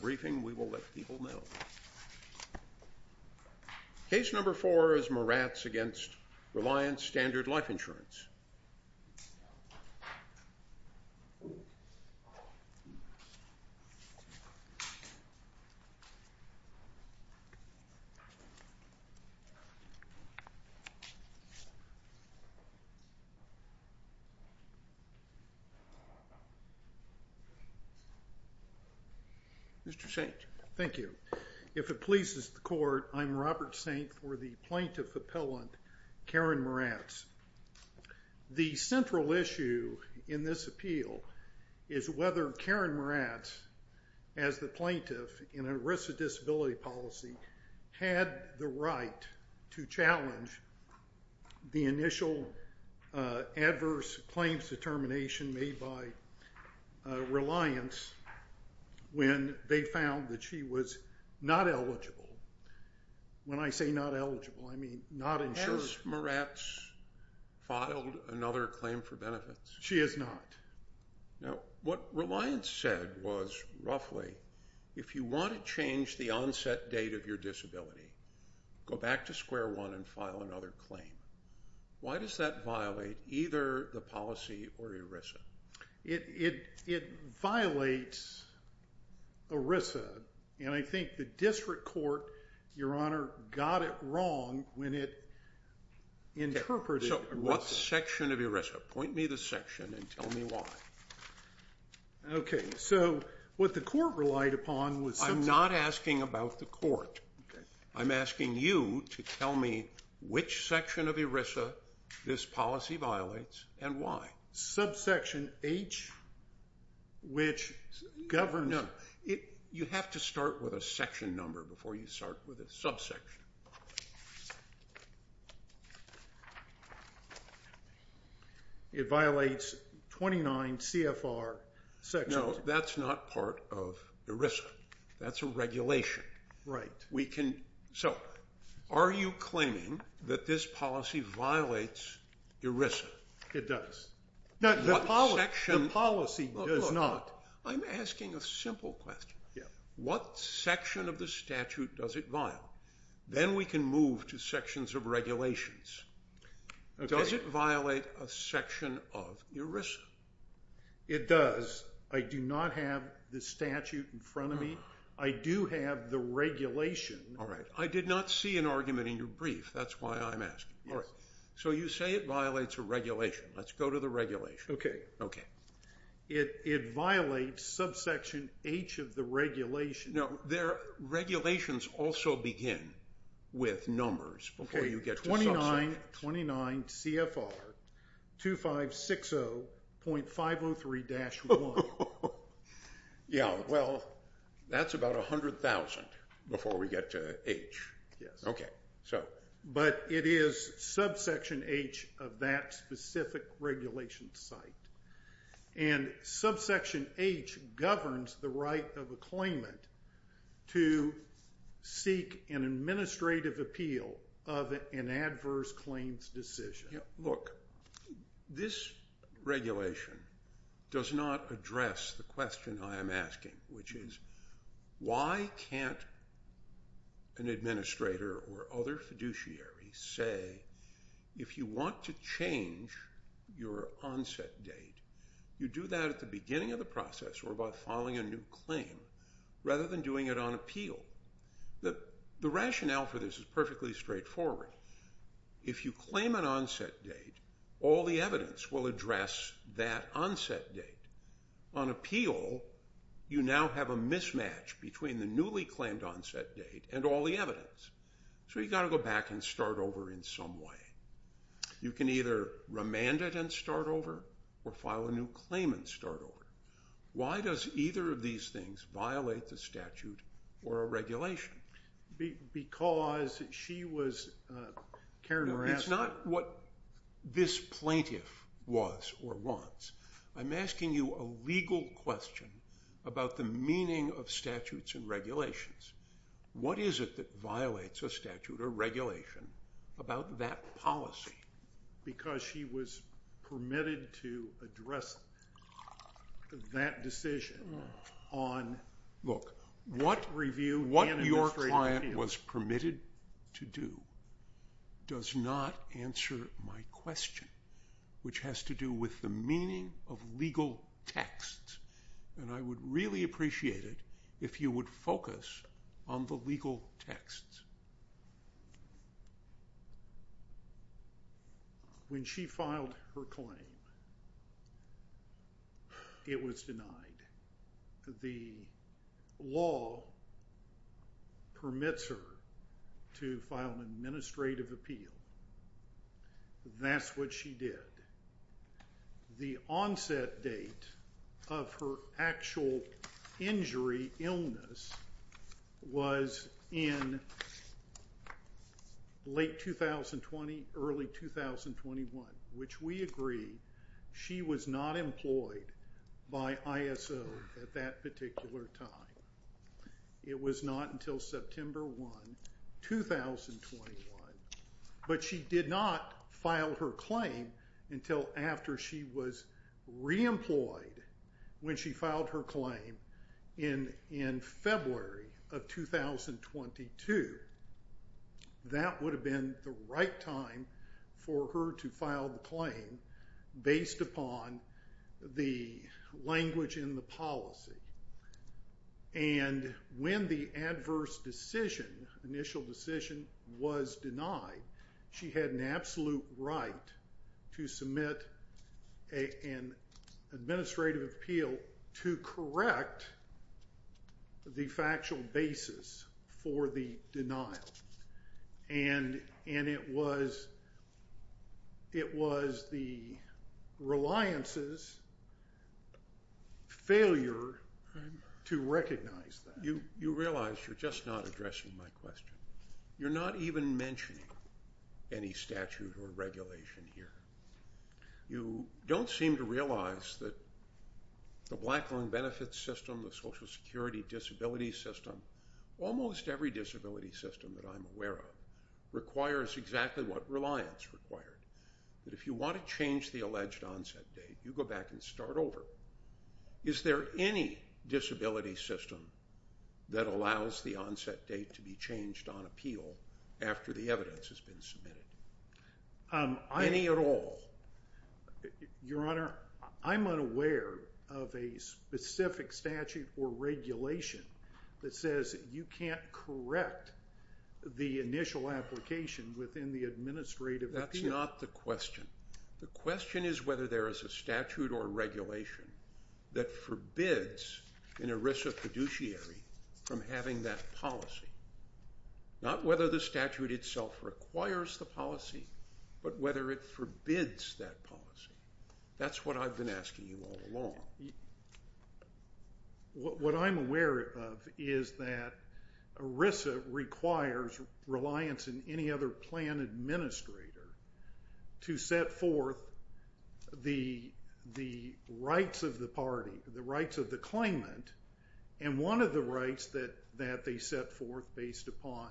briefing, we will let people know. Case number four is Moratz v. Reliance Standard Life Insurance. Thank you. If it pleases the court, I'm Robert St. for the plaintiff appellant, Karen Moratz. The central issue in this appeal is whether Karen Moratz, as the plaintiff in a risk of disability policy, had the right to challenge the initial adverse claims determination made by Reliance when they found that she was not eligible. When I say not eligible, I mean not insured. Has Moratz filed another claim for benefits? She has not. Now, what Reliance said was, roughly, if you want to change the onset date of your disability, go back to year one and file another claim. Why does that violate either the policy or ERISA? It violates ERISA, and I think the district court, your honor, got it wrong when it interpreted ERISA. So what section of ERISA? Point me the section and tell me why. Okay, so what the court relied upon was... I'm not asking about the court. I'm asking you to tell me which section of ERISA this policy violates and why. Subsection H, which governs... No, you have to start with a section number before you start with a subsection. It violates 29 CFR sections. No, that's not part of ERISA. That's a regulation. Right. So, are you claiming that this policy violates ERISA? It does. The policy does not. I'm asking a simple question. What section of the statute does it violate? Then we can move to sections of regulations. Does it violate a section of ERISA? It does. I do not have the statute in front of me. I do have the regulation. All right. I did not see an argument in your brief. That's why I'm asking. All right. So you say it violates a regulation. Let's go to the regulation. Okay. Okay. It violates subsection H of the regulation. No, regulations also begin with 29 CFR 2560.503-1. Yeah. Well, that's about 100,000 before we get to H. Okay. But it is subsection H of that specific regulation site. And subsection H governs the right of a claimant to seek an administrative appeal of an adverse claims decision. Yeah. Look, this regulation does not address the question I am asking, which is why can't an administrator or other fiduciary say, if you want to change your onset date, you do that at the beginning of a new claim, rather than doing it on appeal. The rationale for this is perfectly straightforward. If you claim an onset date, all the evidence will address that onset date. On appeal, you now have a mismatch between the newly claimed onset date and all the evidence. So you got to go back and start over in some way. You can either remand it and start over or file a new claim and start over. Why does either of these things violate the statute or a regulation? Because she was Karen Moran... No, it's not what this plaintiff was or wants. I'm asking you a legal question about the meaning of statutes and regulations. What is it that violates a statute or regulation about that policy? Because she was permitted to address that decision on review and administrative appeal. Look, what your client was permitted to do does not answer my question, which has to do with the meaning of legal texts. And I would really appreciate it if you would focus on the legal texts. When she filed her claim, it was denied. The law permits her to file an administrative appeal. That's what she did. The onset date of her actual injury, illness, was in late 2020, early 2021, which we agree she was not employed by ISO at that particular time. It was not until September 1, 2021. But she did not file her claim until after she was reemployed when she filed her claim in February of 2022. That would have been the right time for her to file the claim based upon the language in the policy. And when the adverse decision, initial decision, was denied, she had an absolute right to submit an administrative appeal to correct the factual basis for the denial. And it was the right time for her to submit an administrative appeal to correct the reliance's failure to recognize that. You realize you're just not addressing my question. You're not even mentioning any statute or regulation here. You don't seem to realize that the black loan benefit system, the Social Security disability system, almost every disability system that I'm aware of, requires exactly what reliance required. But if you want to change the alleged onset date, you go back and start over. Is there any disability system that allows the onset date to be changed on appeal after the evidence has been submitted? Any at all? Your Honor, I'm unaware of a specific statute or regulation that says you can't correct the initial application within the administrative appeal. That's not the question. The question is whether there is a statute or regulation that forbids an ERISA fiduciary from having that policy. Not whether the statute itself requires the policy, but whether it forbids that policy. That's what I've been asking you all along. Your Honor, what I'm aware of is that ERISA requires reliance in any other plan administrator to set forth the rights of the party, the rights of the claimant, and one of the rights that they set forth based upon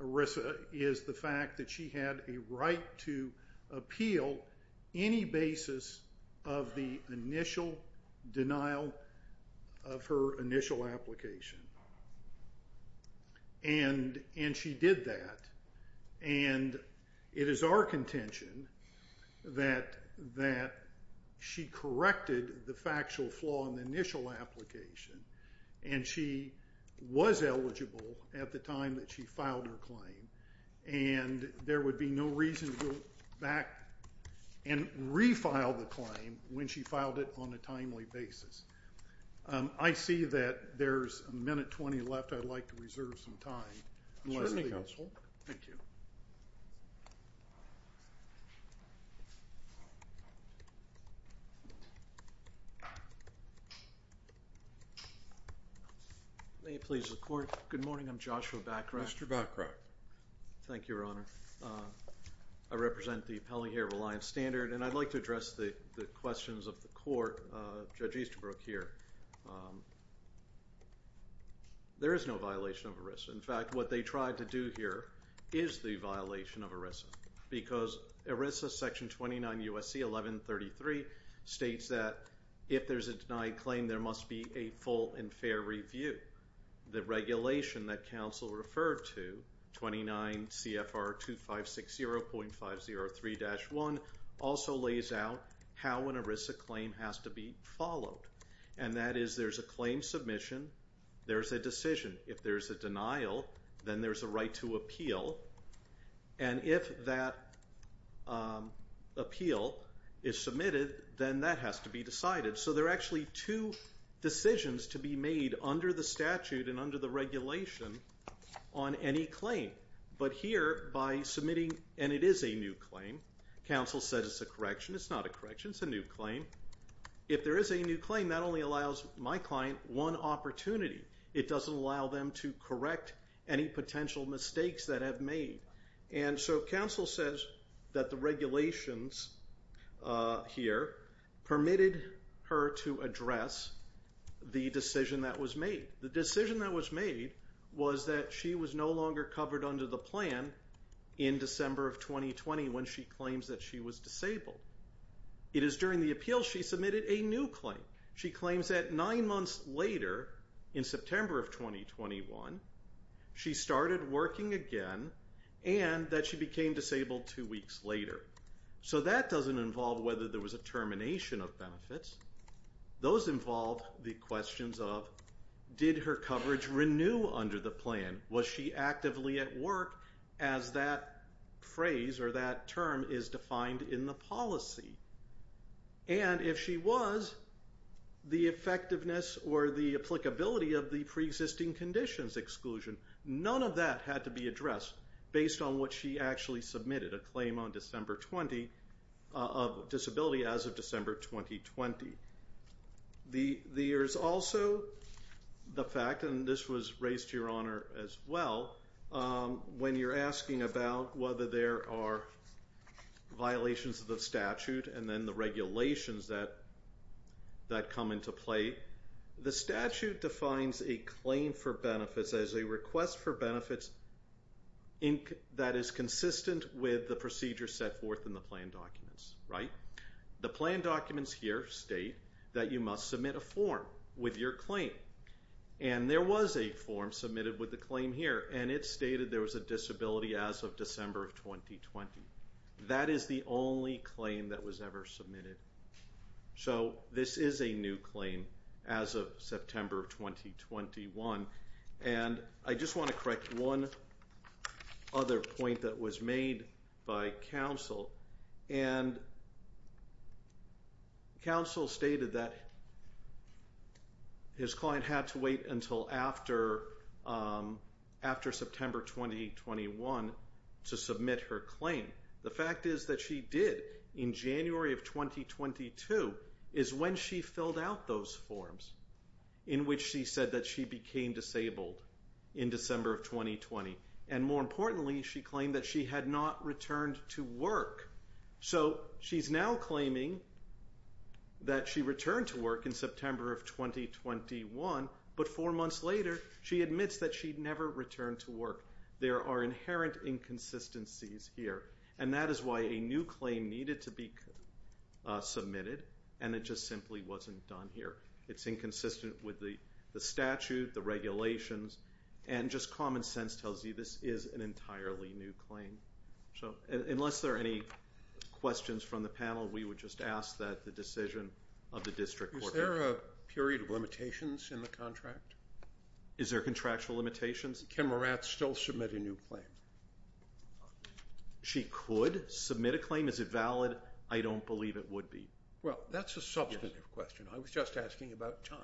ERISA is the fact that she had a right to appeal any basis of the initial denial of her initial application. And she did that, and it is our contention that she corrected the factual flaw in the initial application, and she was eligible at the time that she filed her claim, and there would be no reason to go back and refile the claim when she filed it on a timely basis. I see that there's a minute 20 left. I'd like to reserve some time unless the counsel. Thank you. May it please the Court. Good morning. I'm Joshua Bachrach. Mr. Bachrach. Thank you, Your Honor. I represent the Pelehaer Reliance Standard, and I'd like to address the questions of the Court. Judge Easterbrook here. There is no violation of ERISA. In fact, what they tried to do here is the violation of ERISA, because ERISA section 29 U.S.C. 1133 states that if there's a denied claim, there must be a full and fair review. The regulation that counsel referred to, 29 CFR 2560.503-1, also lays out how an ERISA claim has to be followed, and that is there's a claim submission, there's a decision. If there's a denial, then there's a right to appeal, and if that appeal is submitted, then that has to be decided. So there are actually two decisions to be made under the statute and under the regulation on any claim. But here, by submitting, and it is a new claim, counsel says it's a correction. It's not a correction. It's a new claim. If there is a new claim, that only allows my client one opportunity. It doesn't allow them to correct any potential mistakes that have been made. And so counsel says that the regulations here permitted her to address the decision that was made. The decision that was made was that she was no longer covered under the plan in December of 2020 when she claims that she was disabled. It is during the appeal she submitted a new claim. She claims that nine months later, in September of 2021, she started working again and that she became disabled two weeks later. So that doesn't involve whether there was a termination of benefits. Those involve the questions of did her coverage renew under the plan? Was she actively at work as that phrase or that term is defined in the policy? And if she was, the effectiveness or the applicability of the pre-existing conditions exclusion, none of that had to be addressed based on what she actually submitted, a claim on December 20 of disability as of December 2020. There's also the fact, and this was raised to your honor as well, when you're asking about whether there are violations of the statute and then the regulations that come into play, the statute defines a claim for benefits as a request for benefits that is consistent with the procedure set forth in the plan documents. The plan documents here state that you must submit a form with your claim. And there was a form submitted with the claim here and it stated there was a disability as of December of 2020. That is the only claim that was ever submitted. So this is a new claim as of September of 2021. And I just want to correct one other point that was made by counsel. And counsel stated that his client had to wait until after September 2021 to submit her claim. The fact is that she did in January of 2022 is when she filled out those forms in which she said that she became disabled in December of 2020. And more importantly, she claimed that she had not returned to work. So she's now claiming that she returned to work in September of 2021. But four months later, she admits that she'd never returned to work. There are inherent inconsistencies here. And that is why a new claim needed to be submitted and it just simply wasn't done here. It's inconsistent with the statute, the regulations, and just common sense tells you this is an entirely new claim. So unless there are any questions from the panel, we would just ask that the decision of the district court be made. Is there a period of limitations in the contract? Is there contractual limitations? Can Morath still submit a new claim? She could submit a claim. Is it valid? I don't believe it would be. Well, that's a substantive question. I was just asking about time.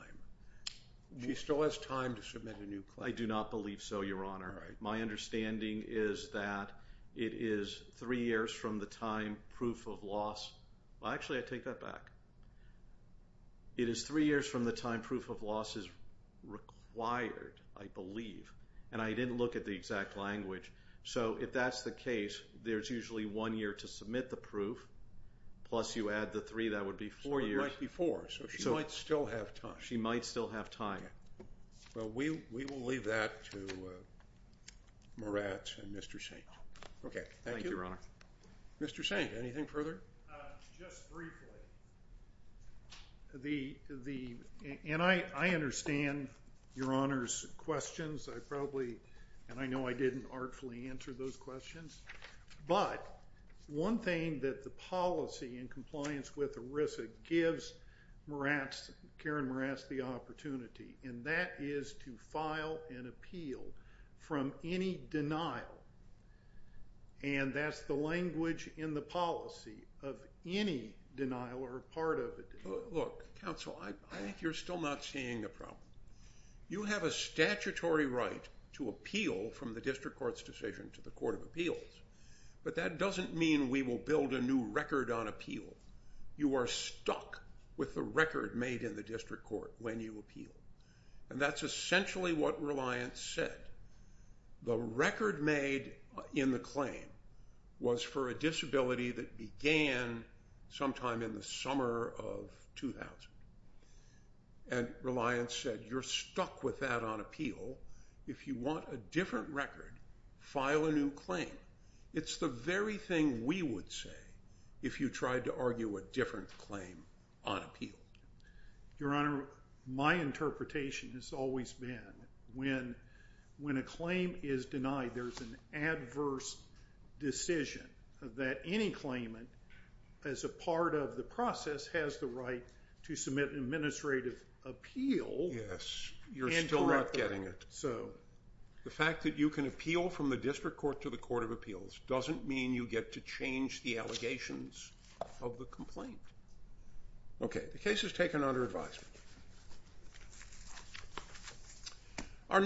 She still has time to submit a new claim. I do not believe so, Your Honor. My understanding is that it is three years from the time proof of loss. Actually, I take that back. It is three years from the time proof of loss is required, I believe. And I didn't look at the exact language. So if that's the case, there's usually one year to submit the proof, plus you add the three, that would be four years. So it might be four. So she might still have time. She might still have time. Well, we will leave that to Morath and Mr. Saint. Okay. Thank you. Thank you, Your Honor. Mr. Saint, anything further? Just briefly. And I understand Your Honor's questions. And I know I didn't artfully answer those questions. But one thing that the policy in compliance with ERISA gives Karen Morath the opportunity, and that is to file an appeal from any denial. And that's the language in the policy of any denial or part of a denial. Look, counsel, I think you're still not seeing the problem. You have a statutory right to appeal from the District Court's decision to the Court of Appeals. But that doesn't mean we will build a new record on appeal. You are stuck with the record made in the District Court when you appeal. And that's essentially what Reliance said. The record made in the claim was for a disability that began sometime in the summer of 2000. And Reliance said, you're stuck with that on appeal. If you want a different record, file a new claim. It's the very thing we would say if you tried to argue a different claim on appeal. Your Honor, my interpretation has always been when a claim is denied, there's an adverse decision that any claimant, as a part of the process, has the right to submit an administrative appeal. Yes. You're still not getting it. So. The fact that you can appeal from the District Court to the Court of Appeals doesn't mean you get to change the allegations of the complaint. Okay. The case is taken under advisement.